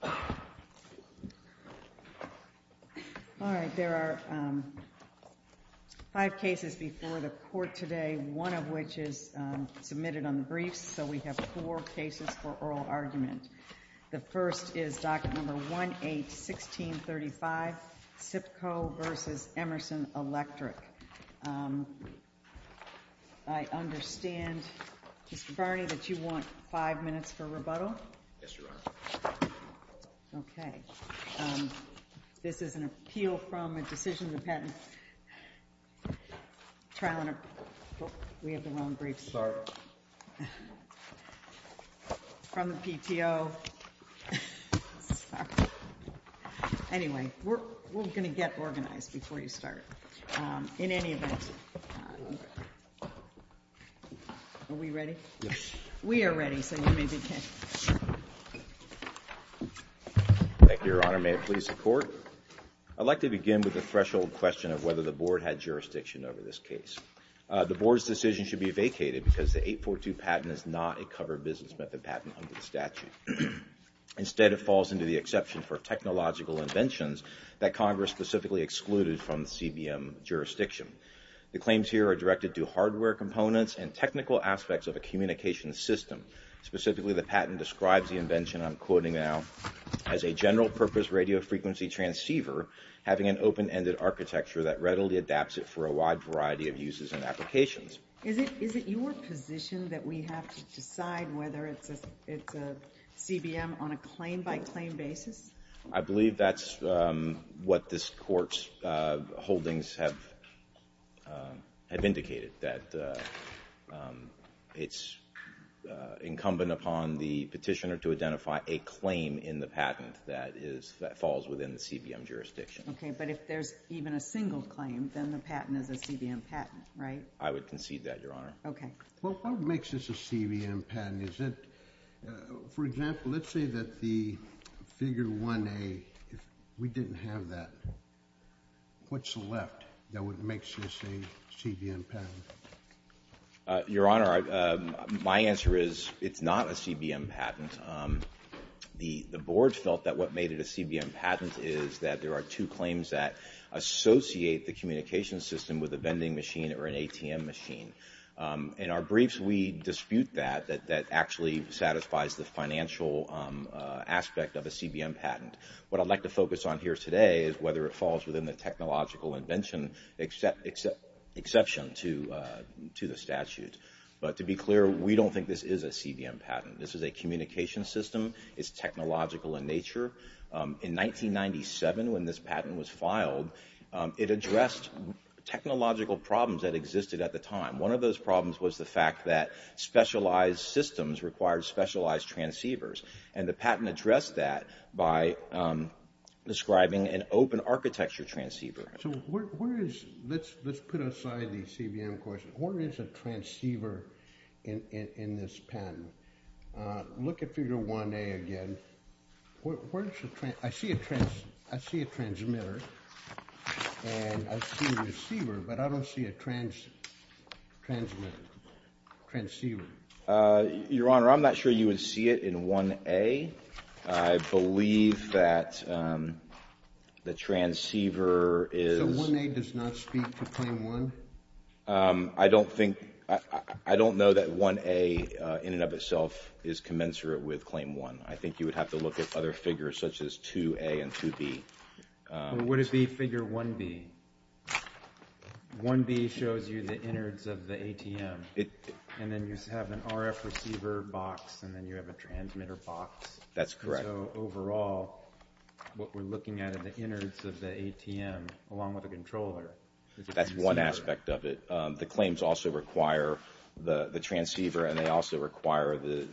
All right, there are five cases before the court today, one of which is submitted on the briefs. So we have four cases for oral argument. The first is document number 181635, SIPCO v. Emerson Electric. I understand, Mr. Barney, that you want five minutes for rebuttal? Yes, Your Honor. Okay. This is an appeal from a decision-dependent trial and—oh, we have the wrong briefs. Sorry. From the PTO. Sorry. Anyway, we're going to get organized before you start. In any event, are we ready? Yes. We are ready, so you may begin. Thank you, Your Honor. May it please the Court? I'd like to begin with the threshold question of whether the Board had jurisdiction over this case. The Board's decision should be vacated because the 842 patent is not a covered business method patent under the statute. Instead, it falls into the exception for technological inventions that Congress specifically excluded from the CBM jurisdiction. The claims here are directed to hardware components and technical aspects of a communication system. Specifically, the patent describes the invention, I'm quoting now, as a general-purpose radio-frequency transceiver having an open-ended architecture that readily adapts it for a wide variety of uses and applications. Is it your position that we have to decide whether it's a CBM on a claim-by-claim basis? I believe that's what this Court's holdings have indicated, that it's incumbent upon the petitioner to identify a claim in the patent that falls within the CBM jurisdiction. Okay, but if there's even a single claim, then the patent is a CBM patent, right? I would concede that, Your Honor. Okay. Well, what makes this a CBM patent? Is it, for example, let's say that the figure 1A, if we didn't have that, what's left that would make this a CBM patent? Your Honor, my answer is it's not a CBM patent. The Board felt that what made it a CBM patent is that there are two claims that associate the communication system with a vending machine or an ATM machine. In our briefs, we dispute that, that actually satisfies the financial aspect of a CBM patent. What I'd like to focus on here today is whether it falls within the technological invention exception to the statute. But to be clear, we don't think this is a CBM patent. This is a communication system. It's technological in nature. In 1997, when this patent was filed, it addressed technological problems that existed at the time. One of those problems was the fact that specialized systems required specialized transceivers. And the patent addressed that by describing an open architecture transceiver. So where is, let's put aside the CBM question, where is a transceiver in this patent? Look at figure 1A again, I see a transmitter and I see a receiver, but I don't see a transceiver. Your Honor, I'm not sure you would see it in 1A. I believe that the transceiver is... So 1A does not speak to claim 1? I don't think, I don't know that 1A in and of itself is commensurate with claim 1. I think you would have to look at other figures such as 2A and 2B. What is the figure 1B? 1B shows you the innards of the ATM and then you have an RF receiver box and then you have a transmitter box. That's correct. So overall, what we're looking at are the innards of the ATM along with the controller. That's one aspect of it. The claims also require the transceiver and they also require the...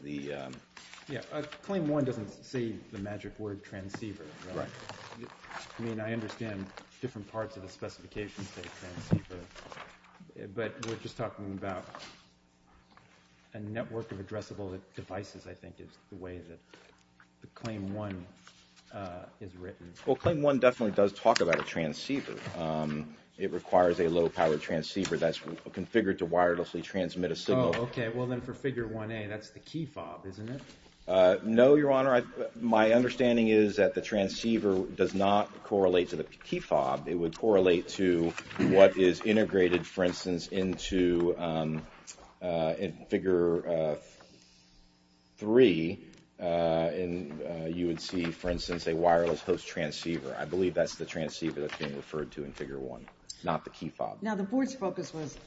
Claim 1 doesn't say the magic word transceiver. Right. I mean, I understand different parts of the specifications of the transceiver, but we're just talking about a network of addressable devices, I think is the way that the claim 1 is written. Well, claim 1 definitely does talk about a transceiver. It requires a low-powered transceiver that's configured to wirelessly transmit a signal. Oh, okay. Well, then for figure 1A, that's the key fob, isn't it? No, Your Honor. My understanding is that the transceiver does not correlate to the key fob. It would correlate to what is integrated, for instance, into figure 3. You would see, for instance, a wireless host transceiver. I believe that's the transceiver that's being referred to in figure 1, not the key fob. Now, the board's focus was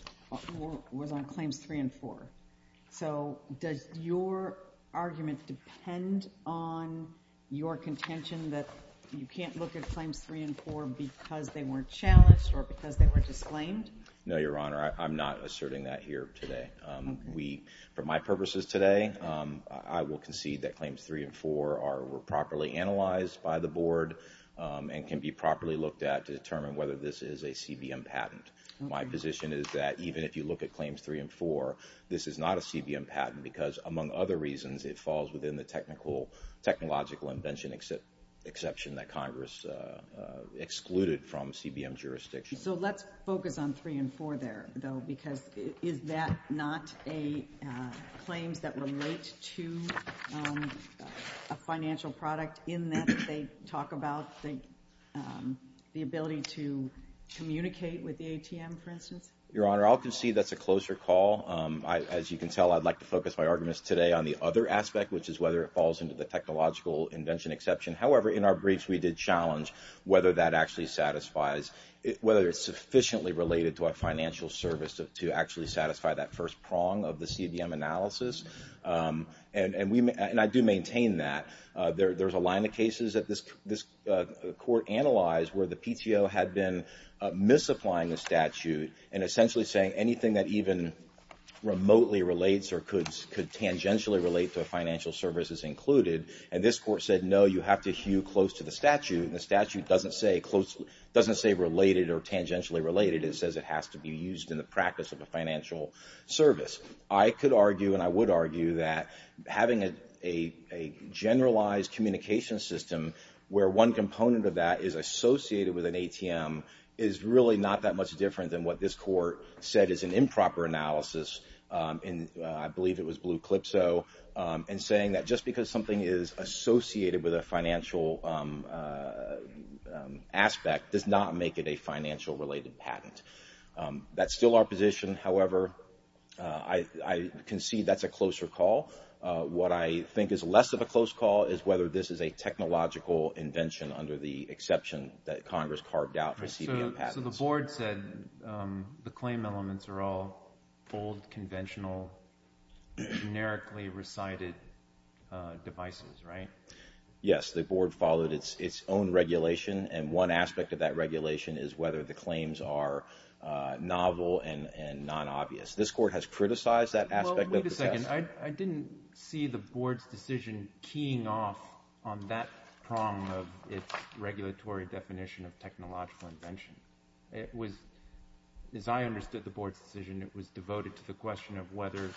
on claims 3 and 4. So, does your argument depend on your contention that you can't look at claims 3 and 4 because they weren't challenged or because they were disclaimed? No, Your Honor. I'm not asserting that here today. For my purposes today, I will concede that claims 3 and 4 were properly analyzed by the board and can be properly looked at to determine whether this is a CBM patent. My position is that even if you look at claims 3 and 4, this is not a CBM patent because, among other reasons, it falls within the technological invention exception that Congress excluded from CBM jurisdiction. So, let's focus on 3 and 4 there, though, because is that not a claims that relate to a financial product in that they talk about the ability to communicate with the ATM, for instance? Your Honor, I'll concede that's a closer call. As you can tell, I'd like to focus my arguments today on the other aspect, which is whether it falls into the technological invention exception. However, in our briefs, we did challenge whether that actually satisfies, whether it's sufficiently related to a financial service to actually satisfy that first prong of the CBM analysis. And I do maintain that. There's a line of cases that this Court analyzed where the PTO had been misapplying the statute and essentially saying anything that even remotely relates or could tangentially relate to a financial service is included. And this Court said, no, you have to hew close to the statute, and the statute doesn't say related or tangentially related, it says it has to be used in the practice of a financial service. I could argue, and I would argue, that having a generalized communication system where one component of that is associated with an ATM is really not that much different than what this Court said is an improper analysis in, I believe it was Blue Calypso, and saying that just because something is associated with a financial aspect does not make it a financial-related patent. That's still our position, however, I concede that's a closer call. What I think is less of a close call is whether this is a technological invention under the exception that Congress carved out for CBM patents. So the Board said the claim elements are all old, conventional, generically recited devices, right? Yes. The Board followed its own regulation, and one aspect of that regulation is whether the claim is novel and non-obvious. This Court has criticized that aspect of the test. Well, wait a second. I didn't see the Board's decision keying off on that prong of its regulatory definition of technological invention. It was, as I understood the Board's decision, it was devoted to the question of whether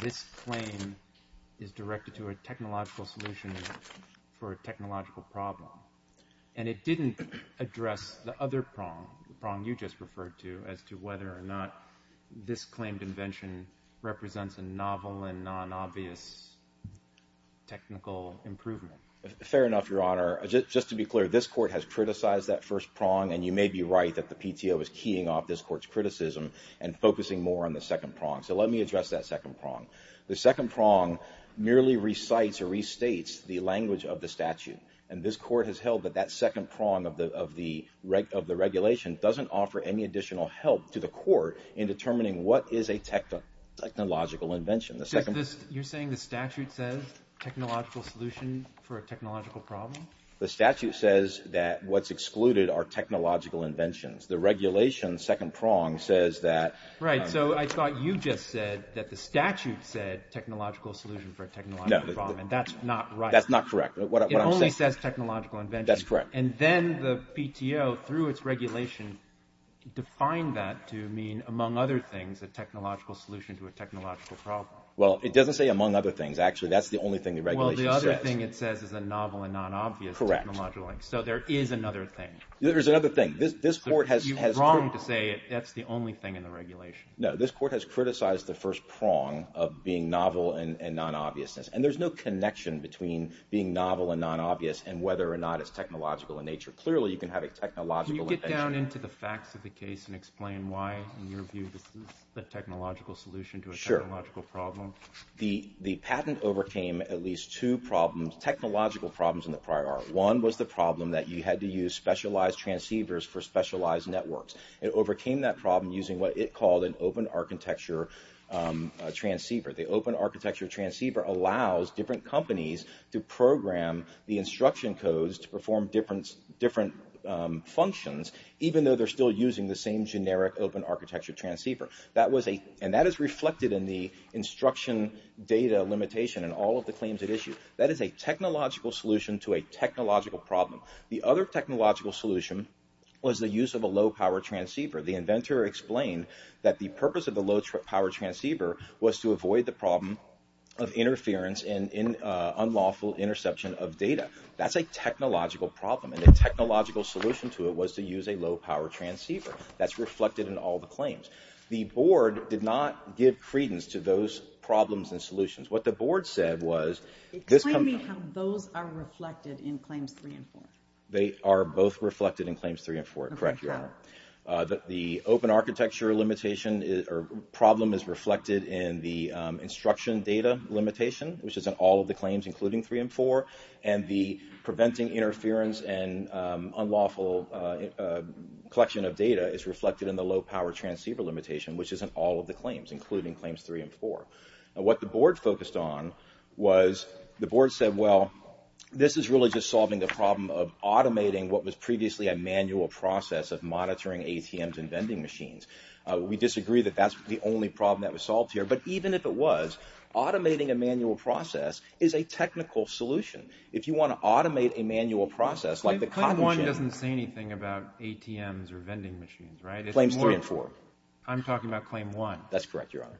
this claim is directed to a technological solution for a technological problem. And it didn't address the other prong, the prong you just referred to, as to whether or not this claimed invention represents a novel and non-obvious technical improvement. Fair enough, Your Honor. Just to be clear, this Court has criticized that first prong, and you may be right that the PTO is keying off this Court's criticism and focusing more on the second prong. So let me address that second prong. The second prong merely recites or restates the language of the statute. And this Court has held that that second prong of the regulation doesn't offer any additional help to the Court in determining what is a technological invention. You're saying the statute says technological solution for a technological problem? The statute says that what's excluded are technological inventions. The regulation's second prong says that... Right. So I thought you just said that the statute said technological solution for a technological problem, and that's not right. That's not correct. It only says technological invention. That's correct. And then the PTO, through its regulation, defined that to mean, among other things, a technological solution to a technological problem. Well, it doesn't say among other things, actually. That's the only thing the regulation says. Well, the other thing it says is a novel and non-obvious technological link, so there is another thing. There's another thing. This Court has... You're wrong to say that's the only thing in the regulation. No, this Court has criticized the first prong of being novel and non-obvious. And there's no connection between being novel and non-obvious, and whether or not it's technological in nature. Clearly, you can have a technological invention. Can you get down into the facts of the case and explain why, in your view, this is a technological solution to a technological problem? Sure. The patent overcame at least two problems, technological problems, in the prior article. One was the problem that you had to use specialized transceivers for specialized networks. It overcame that problem using what it called an open architecture transceiver. The open architecture transceiver allows different companies to program the instruction codes to perform different functions, even though they're still using the same generic open architecture transceiver. And that is reflected in the instruction data limitation and all of the claims it issued. That is a technological solution to a technological problem. The other technological solution was the use of a low-power transceiver. The inventor explained that the purpose of the low-power transceiver was to avoid the problem of interference and unlawful interception of data. That's a technological problem, and the technological solution to it was to use a low-power transceiver. That's reflected in all the claims. The board did not give credence to those problems and solutions. What the board said was, this company- Explain to me how those are reflected in claims three and four. They are both reflected in claims three and four, correct, Your Honor. The open architecture limitation or problem is reflected in the instruction data limitation, which is in all of the claims, including three and four. And the preventing interference and unlawful collection of data is reflected in the low-power transceiver limitation, which is in all of the claims, including claims three and four. What the board focused on was, the board said, well, this is really just solving the problem of automating what was previously a manual process of monitoring ATMs and vending machines. We disagree that that's the only problem that was solved here, but even if it was, automating a manual process is a technical solution. If you want to automate a manual process, like the cotton- Claim one doesn't say anything about ATMs or vending machines, right? It's more- Claims three and four. I'm talking about claim one. That's correct, Your Honor.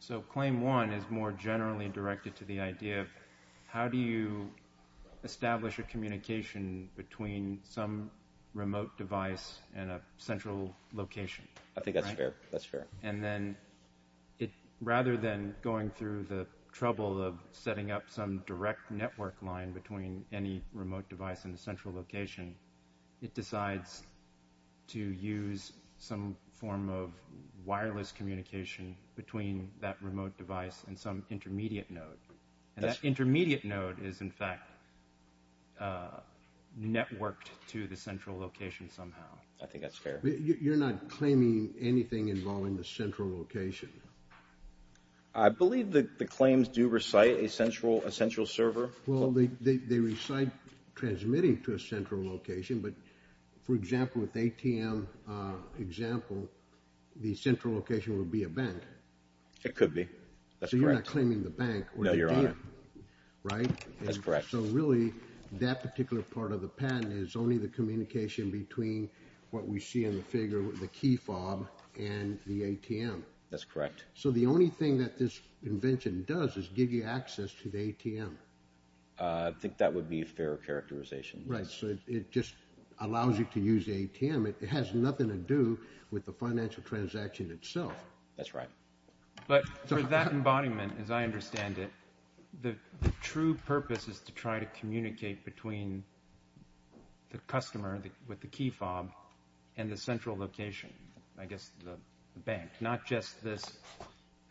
So claim one is more generally directed to the idea of, how do you establish a communication between some remote device and a central location? I think that's fair. That's fair. And then, rather than going through the trouble of setting up some direct network line between any remote device and a central location, it decides to use some form of wireless communication between that remote device and some intermediate node. And that intermediate node is, in fact, networked to the central location somehow. I think that's fair. You're not claiming anything involving the central location? I believe that the claims do recite a central server. Well, they recite transmitting to a central location, but for example, with the ATM example, the central location would be a bank. It could be. That's correct. So you're not claiming the bank or the ATM? No, Your Honor. Right? That's correct. So really, that particular part of the patent is only the communication between what we see in the figure with the key fob and the ATM? That's correct. So the only thing that this invention does is give you access to the ATM? I think that would be a fair characterization. Right. So it just allows you to use the ATM. It has nothing to do with the financial transaction itself. That's right. But for that embodiment, as I understand it, the true purpose is to try to communicate between the customer with the key fob and the central location, I guess, the bank, not just this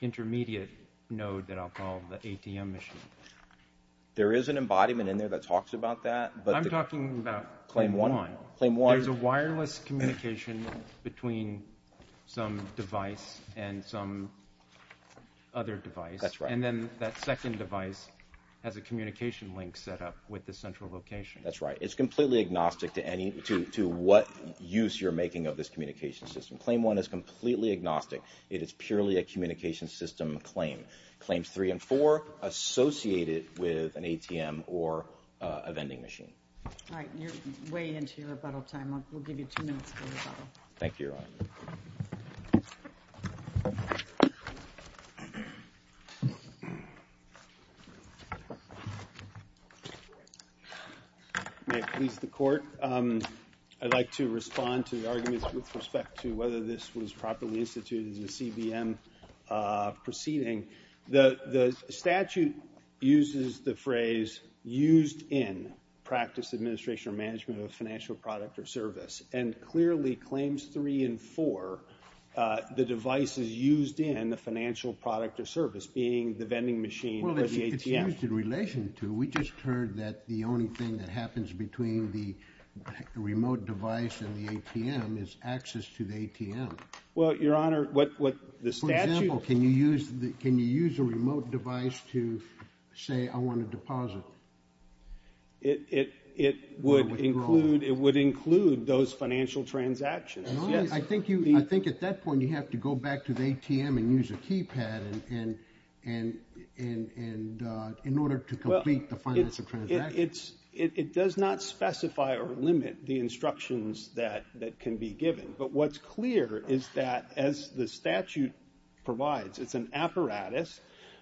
intermediate node that I'll call the ATM machine. There is an embodiment in there that talks about that, but... I'm talking about claim one. Claim one. There's a wireless communication between some device and some other device. That's right. And then that second device has a communication link set up with the central location. That's right. It's completely agnostic to what use you're making of this communication system. Claim one is completely agnostic. It is purely a communication system claim. Claims three and four, associated with an ATM or a vending machine. All right. You're way into your rebuttal time. We'll give you two minutes for rebuttal. Thank you, Your Honor. May it please the court. I'd like to respond to the arguments with respect to whether this was properly instituted in the CBM proceeding. The statute uses the phrase used in practice administration or management of financial product or service, and clearly claims three and four, the device is used in the financial product or service, being the vending machine or the ATM. Well, it's used in relation to. We just heard that the only thing that happens between the remote device and the ATM is access to the ATM. Well, Your Honor, what the statute... Can you use a remote device to say, I want to deposit? It would include those financial transactions. Yes. I think at that point, you have to go back to the ATM and use a keypad in order to complete the financial transaction. It does not specify or limit the instructions that can be given. But what's clear is that, as the statute provides, it's an apparatus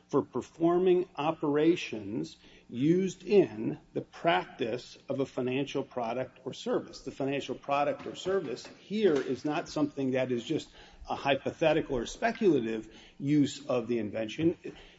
for performing operations used in the practice of a financial product or service. The financial product or service here is not something that is just a hypothetical or speculative use of the invention.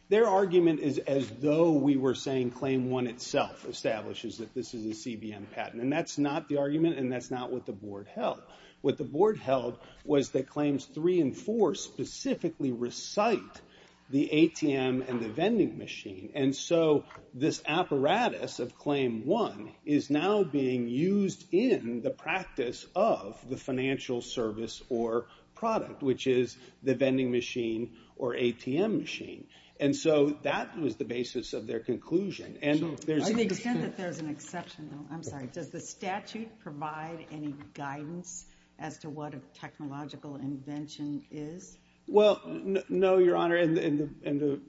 Their argument is as though we were saying claim one itself establishes that this is a CBM patent. And that's not the argument, and that's not what the board held. What the board held was that claims three and four specifically recite the ATM and the vending machine. And so this apparatus of claim one is now being used in the practice of the financial service or product, which is the vending machine or ATM machine. And so that was the basis of their conclusion. And there's... I'm sorry. Does the statute provide any guidance as to what a technological invention is? Well, no, Your Honor. And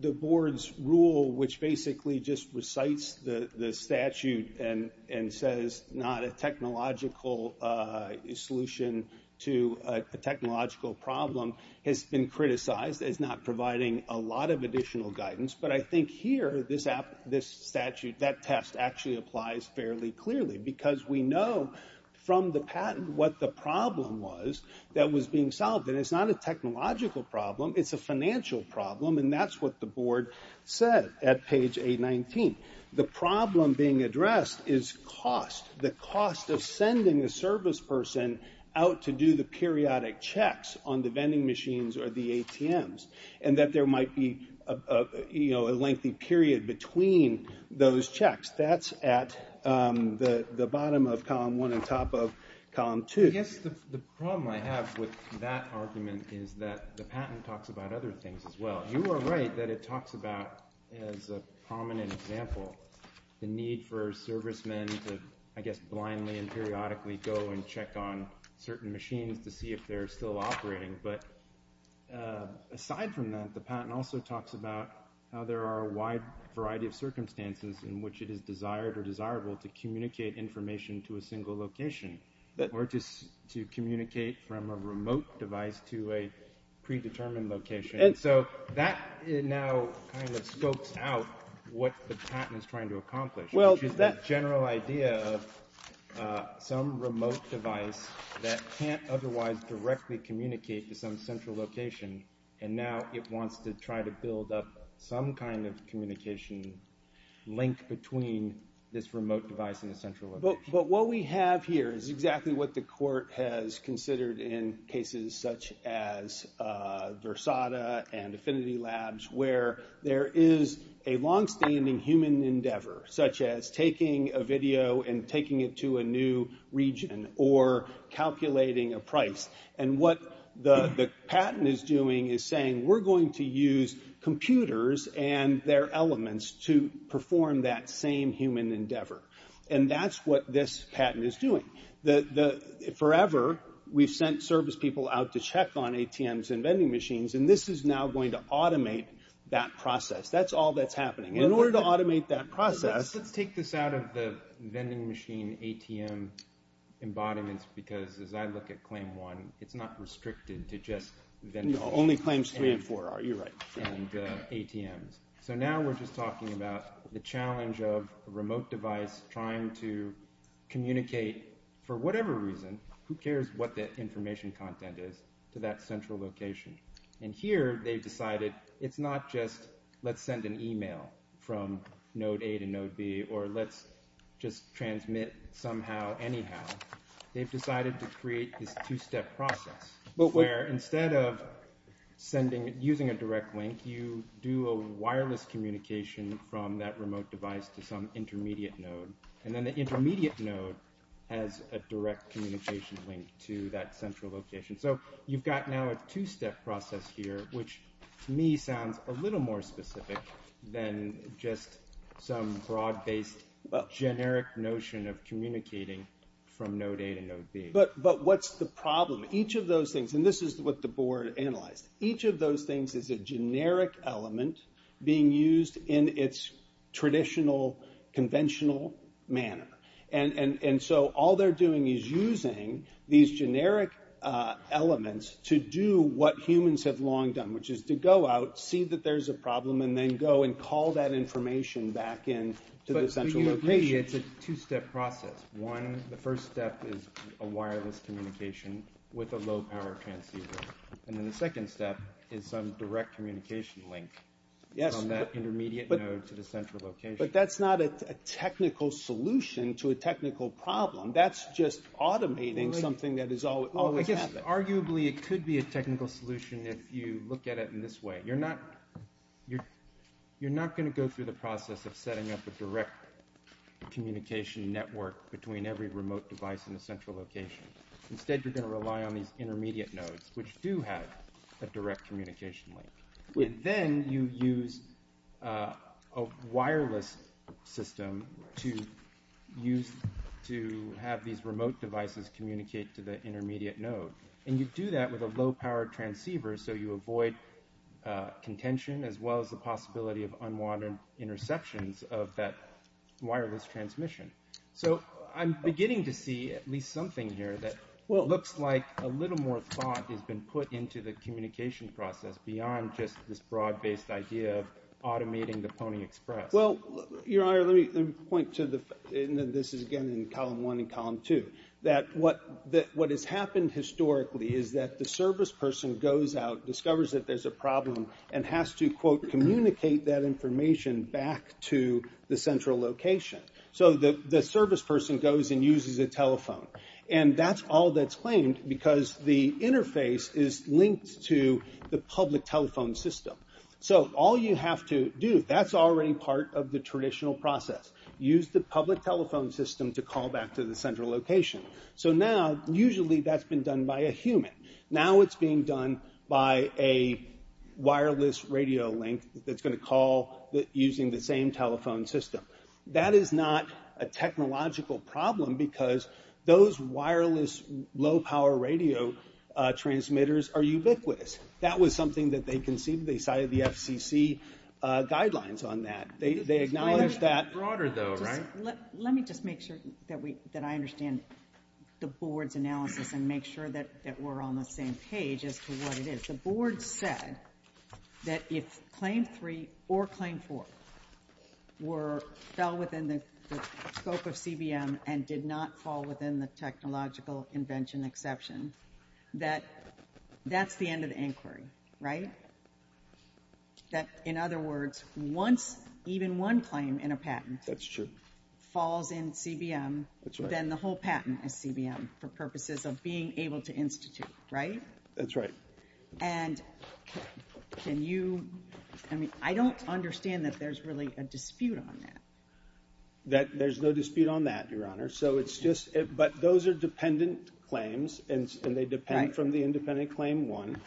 the board's rule, which basically just recites the statute and says not a technological solution to a technological problem, has been criticized as not providing a lot of additional guidance. But I think here this statute, that test actually applies fairly clearly because we know from the patent what the problem was that was being solved. And it's not a technological problem. It's a financial problem. And that's what the board said at page 819. The problem being addressed is cost. The cost of sending a service person out to do the periodic checks on the vending machines or the ATMs, and that there might be a lengthy period between those checks. That's at the bottom of column 1 and top of column 2. I guess the problem I have with that argument is that the patent talks about other things as well. You are right that it talks about, as a prominent example, the need for servicemen to, I guess, blindly and periodically go and check on certain machines to see if they're still operating. But aside from that, the patent also talks about how there are a wide variety of circumstances in which it is desired or desirable to communicate information to a single location or to communicate from a remote device to a predetermined location. And so that now kind of spokes out what the patent is trying to accomplish, which is that general idea of some remote device that can't otherwise directly communicate to some central location. And now it wants to try to build up some kind of communication link between this remote device and the central location. But what we have here is exactly what the court has considered in cases such as Versada and Affinity Labs, where there is a longstanding human endeavor, such as taking a video and taking it to a new region or calculating a price. And what the patent is doing is saying, we're going to use computers and their elements to perform that same human endeavor. And that's what this patent is doing. Forever, we've sent service people out to check on ATMs and vending machines. And this is now going to automate that process. That's all that's happening. In order to automate that process... Let's take this out of the vending machine ATM embodiments, because as I look at claim one, it's not restricted to just vending machines. Only claims three and four, you're right. And ATMs. So now we're just talking about the challenge of a remote device trying to communicate, for whatever reason, who cares what the information content is, to that central location. And here, they've decided, it's not just, let's send an email from node A to node B, or let's just transmit somehow, anyhow. They've decided to create this two-step process, where instead of using a direct link, you do a wireless communication from that remote device to some intermediate node. And then the intermediate node has a direct communication link to that central location. So you've got now a two-step process here, which to me sounds a little more specific than just some broad-based generic notion of communicating from node A to node B. But what's the problem? Each of those things, and this is what the board analyzed. Each of those things is a generic element being used in its traditional, conventional manner. And so all they're doing is using these generic elements to do what humans have long done, which is to go out, see that there's a problem, and then go and call that information back in to the central location. But do you agree it's a two-step process? One, the first step is a wireless communication with a low-power transceiver. And then the second step is some direct communication link from that intermediate node to the central location. But that's not a technical solution to a technical problem. That's just automating something that has always happened. Arguably, it could be a technical solution if you look at it in this way. You're not going to go through the process of setting up a direct communication network between every remote device in the central location. Instead, you're going to rely on these intermediate nodes, which do have a direct communication link. Then you use a wireless system to have these remote devices communicate to the intermediate node. And you do that with a low-power transceiver, so you avoid contention, as well as the possibility of unwanted interceptions of that wireless transmission. So I'm beginning to see at least something here that, well, it looks like a little more thought has been put into the communication process beyond just this broad-based idea of automating the Pony Express. Well, your honor, let me point to the, and this is again in column one and column two, that what has happened historically is that the service person goes out, discovers that there's a problem, and has to, quote, communicate that information back to the central location. So the service person goes and uses a telephone. And that's all that's claimed, because the interface is linked to the public telephone system. So all you have to do, that's already part of the traditional process. Use the public telephone system to call back to the central location. So now, usually that's been done by a human. Now it's being done by a wireless radio link that's going to call using the same telephone system. That is not a technological problem, because those wireless low-power radio transmitters are ubiquitous. That was something that they conceived. They cited the FCC guidelines on that. They acknowledged that. It's broader though, right? Let me just make sure that I understand the board's analysis and make sure that we're on the same page as to what it is. The board said that if Claim 3 or Claim 4 fell within the scope of CBM and did not fall within the technological invention exception, that that's the end of the inquiry, right? That, in other words, once even one claim in a patent falls in CBM, then the whole patent is CBM for purposes of being able to institute, right? That's right. And can you, I mean, I don't understand that there's really a dispute on that. That there's no dispute on that, Your Honor. So it's just, but those are dependent claims, and they depend from the independent Claim 1.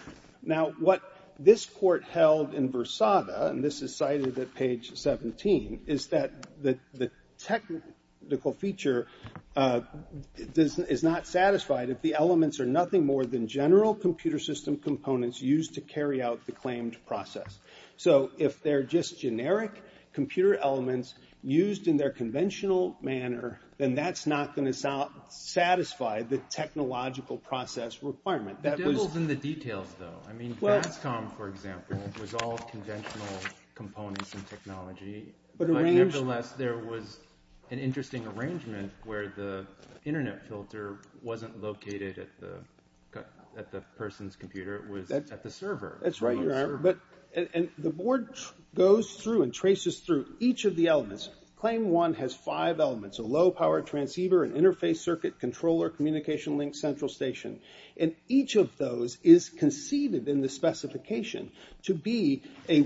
Now, what this court held in Versada, and this is cited at page 17, is that the technical feature is not satisfied if the elements are nothing more than general computer system components used to carry out the claimed process. So if they're just generic computer elements used in their conventional manner, then that's not going to satisfy the technological process requirement. The devil's in the details, though. I mean, Vastom, for example, was all conventional components and technology. Nevertheless, there was an interesting arrangement where the internet filter wasn't located at the person's computer. It was at the server. That's right, Your Honor. But the board goes through and traces through each of the elements. Claim 1 has five elements, a low-powered transceiver, an interface circuit controller, communication link, central station. And each of those is conceived in the specification to be a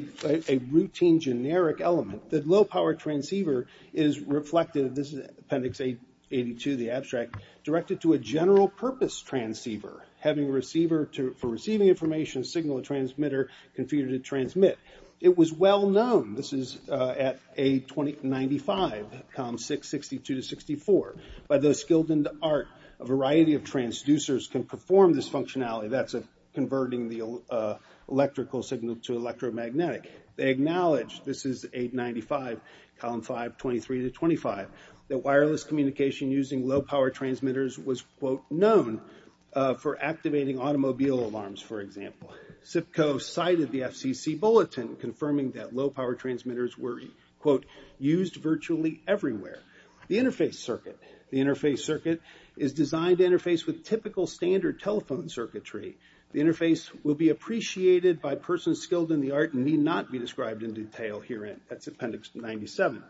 routine generic element. The low-powered transceiver is reflected, this is Appendix 82, the abstract, directed to a general-purpose transceiver, having a receiver for receiving information, signal and transmitter, computer to transmit. It was well known, this is at A2095, columns 662 to 64, by those skilled in the art, a variety of transducers can perform this functionality. That's converting the electrical signal to electromagnetic. They acknowledge, this is 895, column 5, 23 to 25, that wireless communication using low-powered transmitters was, quote, known for activating automobile alarms, for example. CIPCO cited the FCC bulletin confirming that low-powered transmitters were, quote, used virtually everywhere. The interface circuit, the interface circuit is designed to interface with typical standard telephone circuitry. The interface will be appreciated by persons skilled in the art and need not be described in detail herein. That's Appendix 97.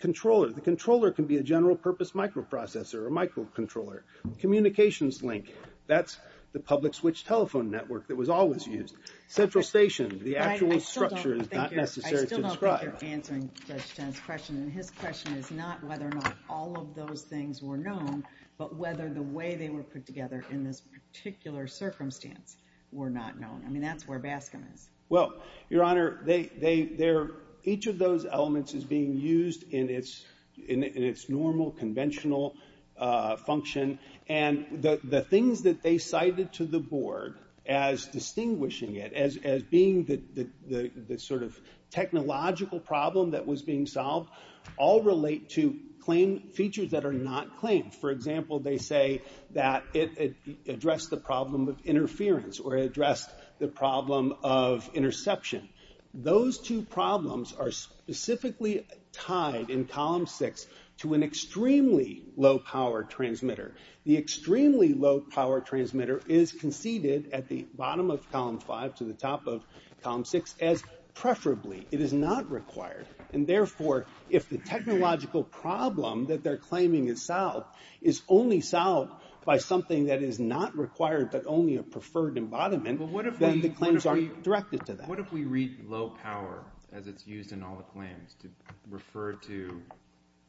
Controller, the controller can be a general-purpose microprocessor or microcontroller. Communications link, that's the public switch telephone network that was always used. Central station, the actual structure is not necessary to describe. I still don't think you're answering Judge Chen's question, and his question is not whether or not all of those things were known, but whether the way they were put together in this particular circumstance were not known. I mean, that's where BASCM is. Well, Your Honor, they, they, they're, each of those elements is being used in its, in its normal conventional function, and the, the things that they cited to the board as distinguishing it, as, as being the, the, the sort of technological problem that was being solved all relate to claim, features that are not claimed. For example, they say that it, it addressed the problem of interference, or it addressed the problem of interception. Those two problems are specifically tied in Column 6 to an extremely low-power transmitter. The extremely low-power transmitter is conceded at the bottom of Column 5 to the top of Column 6 as preferably. It is not required. And therefore, if the technological problem that they're claiming is solved is only solved by something that is not required, but only a preferred embodiment, then the claims aren't directed to that. What if we read low-power as it's used in all the claims to refer to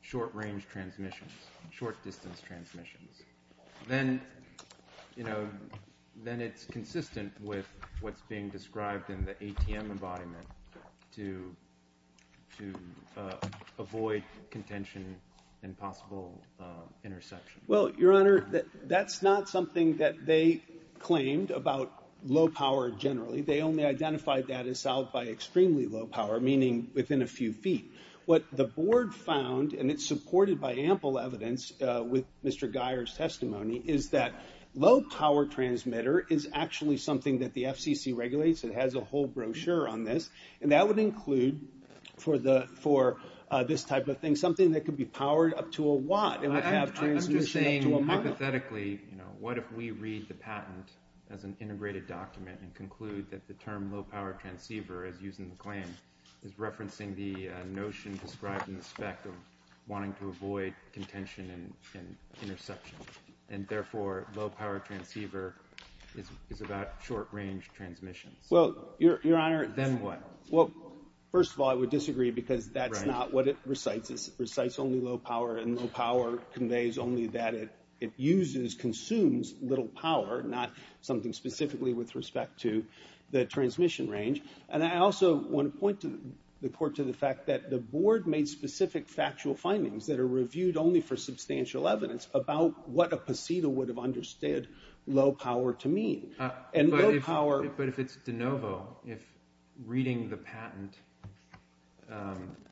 short-range transmissions, short-distance transmissions? Then, you know, then it's consistent with what's being described in the ATM embodiment to, to avoid contention and possible interception. Well, Your Honor, that's not something that they claimed about low-power generally. They only identified that as solved by extremely low-power, meaning within a few feet. What the Board found, and it's supported by ample evidence with Mr. Geyer's testimony, is that low-power transmitter is actually something that the FCC regulates. It has a whole brochure on this. And that would include for the, for this type of thing, something that could be powered up to a watt and would have transmission up to a mile. I'm just saying, hypothetically, you know, what if we read the patent as an integrated document and conclude that the term low-power transceiver, as used in the claim, is referencing the notion described in the spec of wanting to avoid contention and, and interception. And therefore, low-power transceiver is, is about short-range transmissions. Well, Your Honor. Then what? Well, first of all, I would disagree because that's not what it recites. It recites only low-power and low-power conveys only that it, it uses, consumes little power, not something specifically with respect to the transmission range. And I also want to point to the court to the fact that the board made specific factual findings that are reviewed only for substantial evidence about what a PECIDA would have understood low-power to mean. And low-power. But if it's de novo, if reading the patent,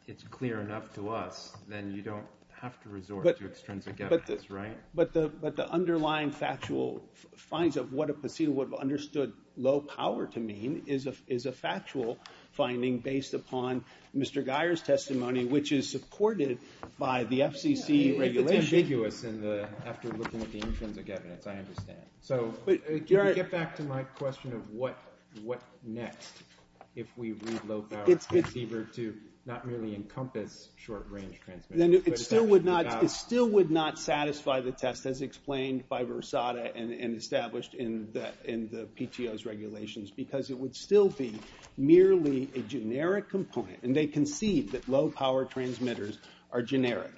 it's clear enough to us, then you don't have to resort to extrinsic evidence, right? But the, but the underlying factual finds of what a PECIDA would have understood low-power to mean is a, is a factual finding based upon Mr. Geyer's testimony, which is supported by the FCC regulation. If it's ambiguous in the, after looking at the intrinsic evidence, I understand. So, get back to my question of what, what next, if we read low-power transceiver to not merely encompass short-range transmission. Then it still would not, it still would not satisfy the test as explained by Versada and because it would still be merely a generic component. And they concede that low-power transmitters are generic.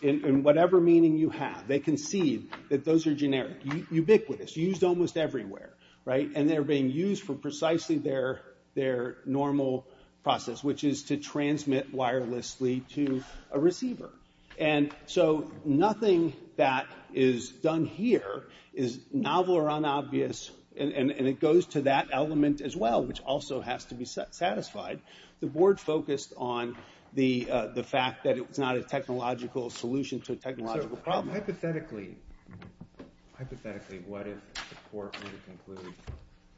In whatever meaning you have, they concede that those are generic, ubiquitous, used almost everywhere, right? And they're being used for precisely their, their normal process, which is to transmit wirelessly to a receiver. And so, nothing that is done here is novel or unobvious and, and it goes to that element as well, which also has to be satisfied. The board focused on the, the fact that it's not a technological solution to a technological problem. Hypothetically, hypothetically, what if the court were to conclude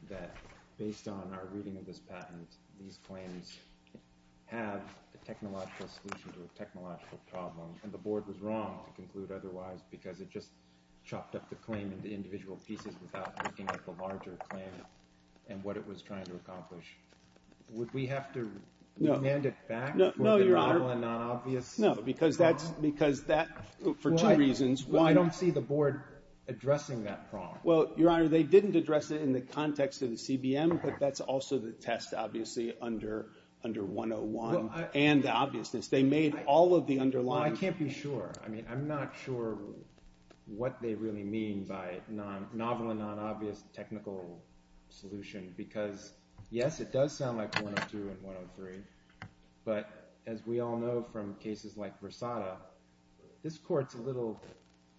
that based on our reading of this patent, these claims have a technological solution to a technological problem. And the board was wrong to conclude otherwise, because it just chopped up the claim into individual pieces without looking at the larger claim and what it was trying to accomplish. Would we have to remand it back for the novel and unobvious? No, because that's, because that, for two reasons. Well, I don't see the board addressing that problem. Well, Your Honor, they didn't address it in the context of the CBM, but that's also the test, obviously, under, under 101 and the obviousness. They made all of the underlying... I can't be sure. I mean, I'm not sure what they really mean by non, novel and unobvious technical solution, because yes, it does sound like 102 and 103, but as we all know from cases like Versada, this court's a little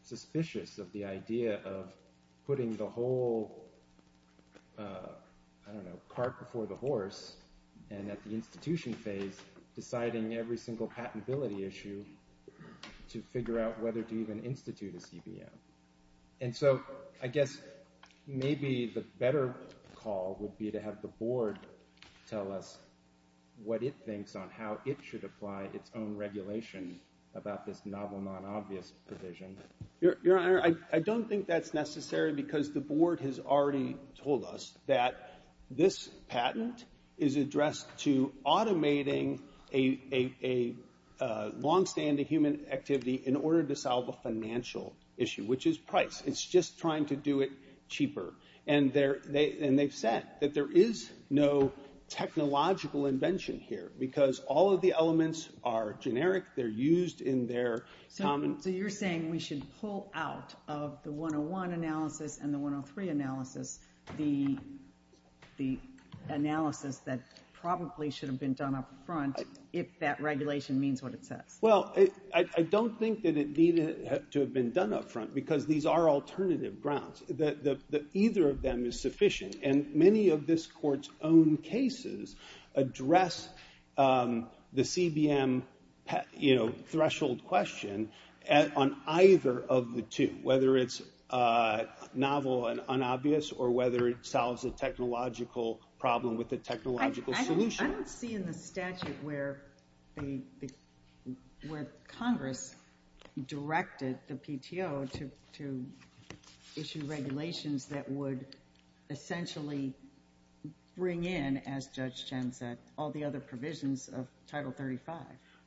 suspicious of the idea of putting the whole, I don't know, cart before the horse and at the institution phase, deciding every single patentability issue to figure out whether to even institute a CBM. And so I guess maybe the better call would be to have the board tell us what it thinks on how it should apply its own regulation about this novel, non-obvious provision. Your Honor, I don't think that's necessary because the board has already told us that this patent is addressed to automating a longstanding human activity in order to solve a financial issue, which is price. It's just trying to do it cheaper. And they've said that there is no technological invention here because all of the elements are generic. They're used in their common... So you're saying we should pull out of the 101 analysis and the 103 analysis the analysis that probably should have been done up front if that regulation means what it says? Well, I don't think that it needed to have been done up front because these are alternative grounds, that either of them is sufficient. And many of this Court's own cases address the CBM threshold question on either of the two, whether it's novel and unobvious or whether it solves a technological problem with a technological solution. I don't see in the statute where Congress directed the PTO to issue regulations that would essentially bring in, as Judge Chen said, all the other provisions of Title 35.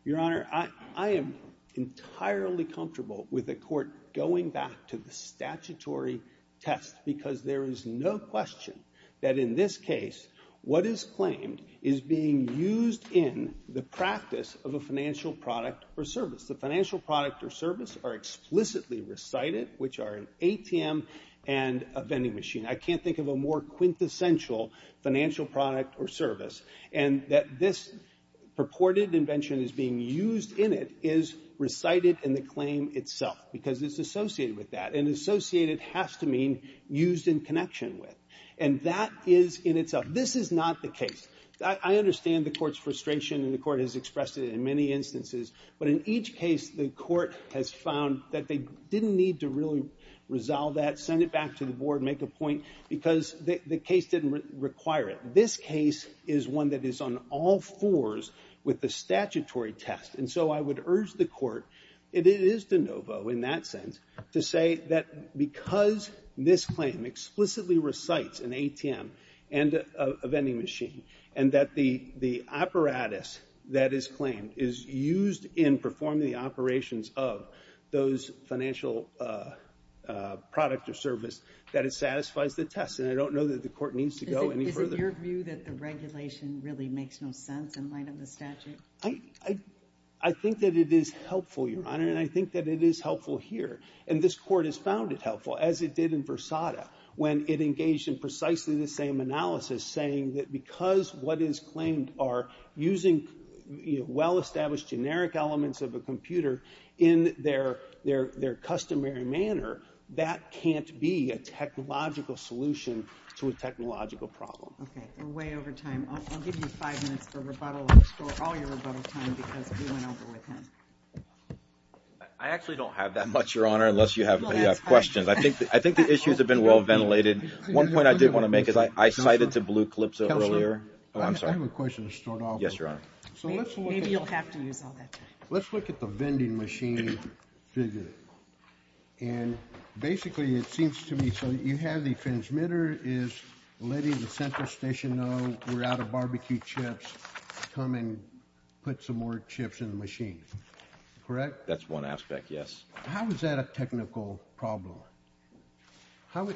Your Honor, I am entirely comfortable with the Court going back to the statutory test because there is no question that in this case what is claimed is being used in the practice of a financial product or service. The financial product or service are explicitly recited, which are an ATM and a vending machine. I can't think of a more quintessential financial product or service. And that this purported invention is being used in it is recited in the claim itself because it's associated with that. And associated has to mean used in connection with. And that is in itself. This is not the case. I understand the Court's frustration and the Court has expressed it in many instances. But in each case, the Court has found that they didn't need to really resolve that, send it back to the Board, make a point, because the case didn't require it. This case is one that is on all fours with the statutory test. So I would urge the Court, and it is de novo in that sense, to say that because this claim explicitly recites an ATM and a vending machine, and that the apparatus that is claimed is used in performing the operations of those financial product or service, that it satisfies the test. And I don't know that the Court needs to go any further. Is it your view that the regulation really makes no sense in light of the statute? I think that it is helpful, Your Honor. And I think that it is helpful here. And this Court has found it helpful, as it did in Versada, when it engaged in precisely the same analysis, saying that because what is claimed are using well-established generic elements of a computer in their customary manner, that can't be a technological solution to a technological problem. Okay. We're way over time. I'll give you five minutes for rebuttal. All your rebuttal time, because we went over with him. I actually don't have that much, Your Honor, unless you have questions. I think the issues have been well-ventilated. One point I did want to make is I cited to blue clips earlier. Counselor, I have a question to start off with. Yes, Your Honor. Maybe you'll have to use all that time. Let's look at the vending machine figure. And basically, it seems to me, so you have the transmitter is letting the central station know we're out of barbecue chips, come and put some more chips in the machine, correct? That's one aspect, yes. How is that a technical problem? How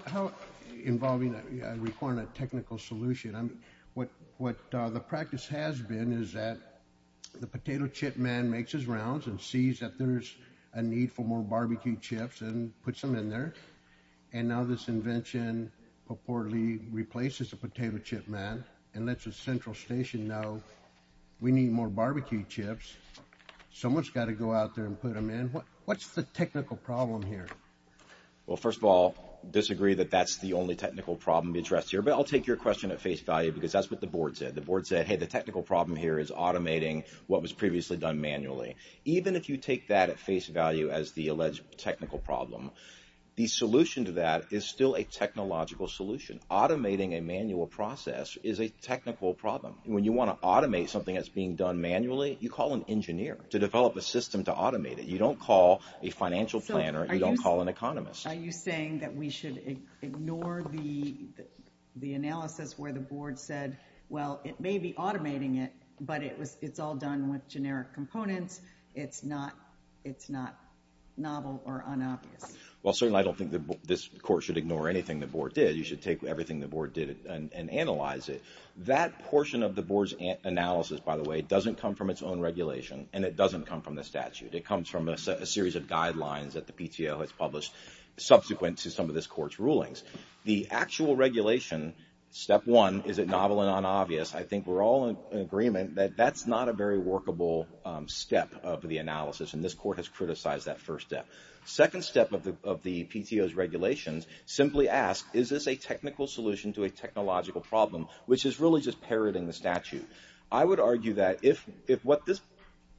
involving, requiring a technical solution? What the practice has been is that the potato chip man makes his rounds and sees that there's a need for more barbecue chips and puts them in there. And now this invention purportedly replaces the potato chip man and lets the central station know we need more barbecue chips. Someone's got to go out there and put them in. What's the technical problem here? Well, first of all, disagree that that's the only technical problem addressed here. But I'll take your question at face value, because that's what the board said. The board said, hey, the technical problem here is automating what was previously done manually. Even if you take that at face value as the alleged technical problem, the solution to that is still a technological solution. Automating a manual process is a technical problem. When you want to automate something that's being done manually, you call an engineer to develop a system to automate it. You don't call a financial planner. You don't call an economist. Are you saying that we should ignore the analysis where the board said, well, it may be automating it, but it's all done with generic components. It's not novel or unobvious. Well, certainly, I don't think this court should ignore anything the board did. You should take everything the board did and analyze it. That portion of the board's analysis, by the way, doesn't come from its own regulation, and it doesn't come from the statute. It comes from a series of guidelines that the PTO has published subsequent to some of this court's rulings. The actual regulation, step one, is it novel and unobvious? I think we're all in agreement that that's not a very workable step of the analysis, and this court has criticized that first step. Second step of the PTO's regulations, simply ask, is this a technical solution to a technological problem, which is really just parroting the statute? I would argue that if what this...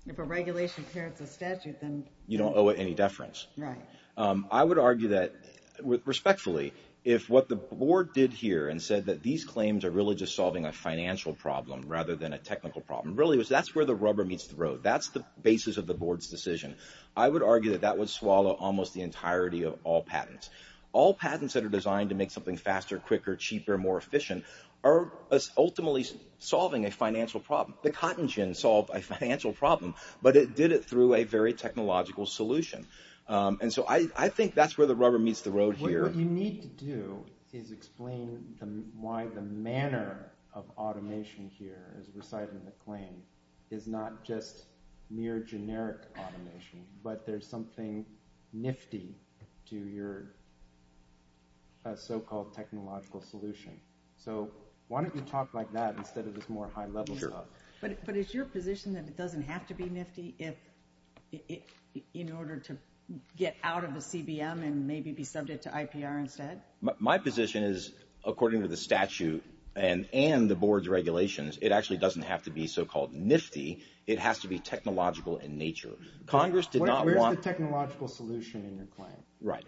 If a regulation parrots a statute, then... You don't owe it any deference. Right. I would argue that, respectfully, if what the board did here and said that these claims are really just solving a financial problem rather than a technical problem, really, that's where the rubber meets the road. That's the basis of the board's decision. I would argue that that would swallow almost the entirety of all patents. All patents that are designed to make something faster, quicker, cheaper, more efficient are ultimately solving a financial problem. The cotton gin solved a financial problem, but it did it through a very technological solution. And so I think that's where the rubber meets the road here. What you need to do is explain why the manner of automation here, as recited in the claim, is not just mere generic automation, but there's something nifty to your so-called technological solution. So why don't you talk like that instead of this more high-level talk? Sure. But is your position that it doesn't have to be nifty in order to get out of the CBM and maybe be subject to IPR instead? My position is, according to the statute and the board's regulations, it actually doesn't have to be so-called nifty. It has to be technological in nature. Congress did not want... Where's the technological solution in your claim? Right.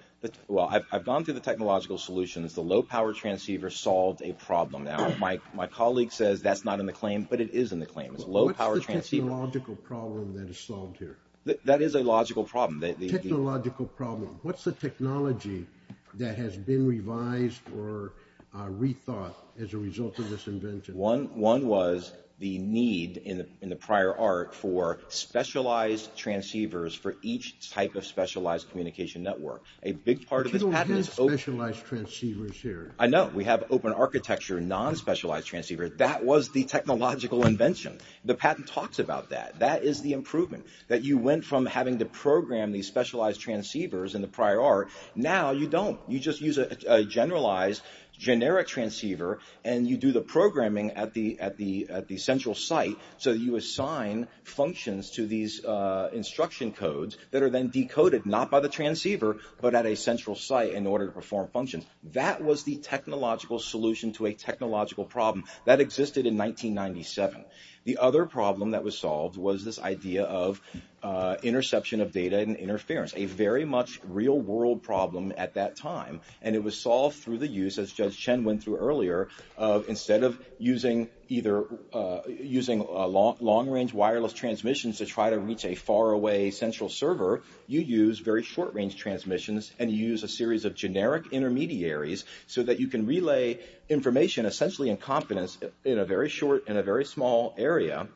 Well, I've gone through the technological solutions. The low-power transceiver solved a problem. Now, my colleague says that's not in the claim, but it is in the claim. It's a low-power transceiver. What's the technological problem that is solved here? That is a logical problem. The technological problem. What's the technology that has been revised or rethought as a result of this invention? One was the need in the prior art for specialized transceivers for each type of specialized communication network. A big part of this patent is... But you don't have specialized transceivers here. I know. We have open architecture, non-specialized transceivers. That was the technological invention. The patent talks about that. That is the improvement, that you went from having to program these specialized transceivers in the prior art. Now you don't. You just use a generalized generic transceiver and you do the programming at the central site so that you assign functions to these instruction codes that are then decoded, not by the transceiver, but at a central site in order to perform functions. That was the technological solution to a technological problem. That existed in 1997. The other problem that was solved was this idea of interception of data and interference. A very much real-world problem at that time. It was solved through the use, as Judge Chen went through earlier, instead of using long-range wireless transmissions to try to reach a faraway central server, you use very short-range transmissions and you use a series of generic intermediaries so that you can relay information, essentially in confidence, in a very short and a very small area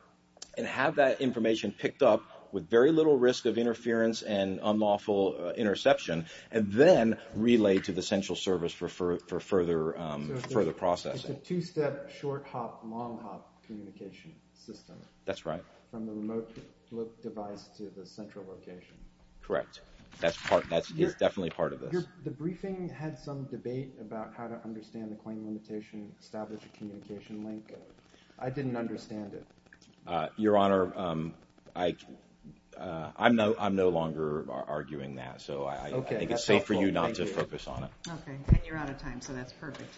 and have that information picked up with very little risk of interference and unlawful interception and then relayed to the central service for further processing. It's a two-step, short-hop, long-hop communication system. That's right. From the remote device to the central location. Correct. That is definitely part of this. The briefing had some debate about how to understand the claim limitation, establish a communication link. I didn't understand it. Your Honor, I'm no longer arguing that. I think it's safe for you not to focus on it. Okay. And you're out of time, so that's perfect. Thank you, Your Honor.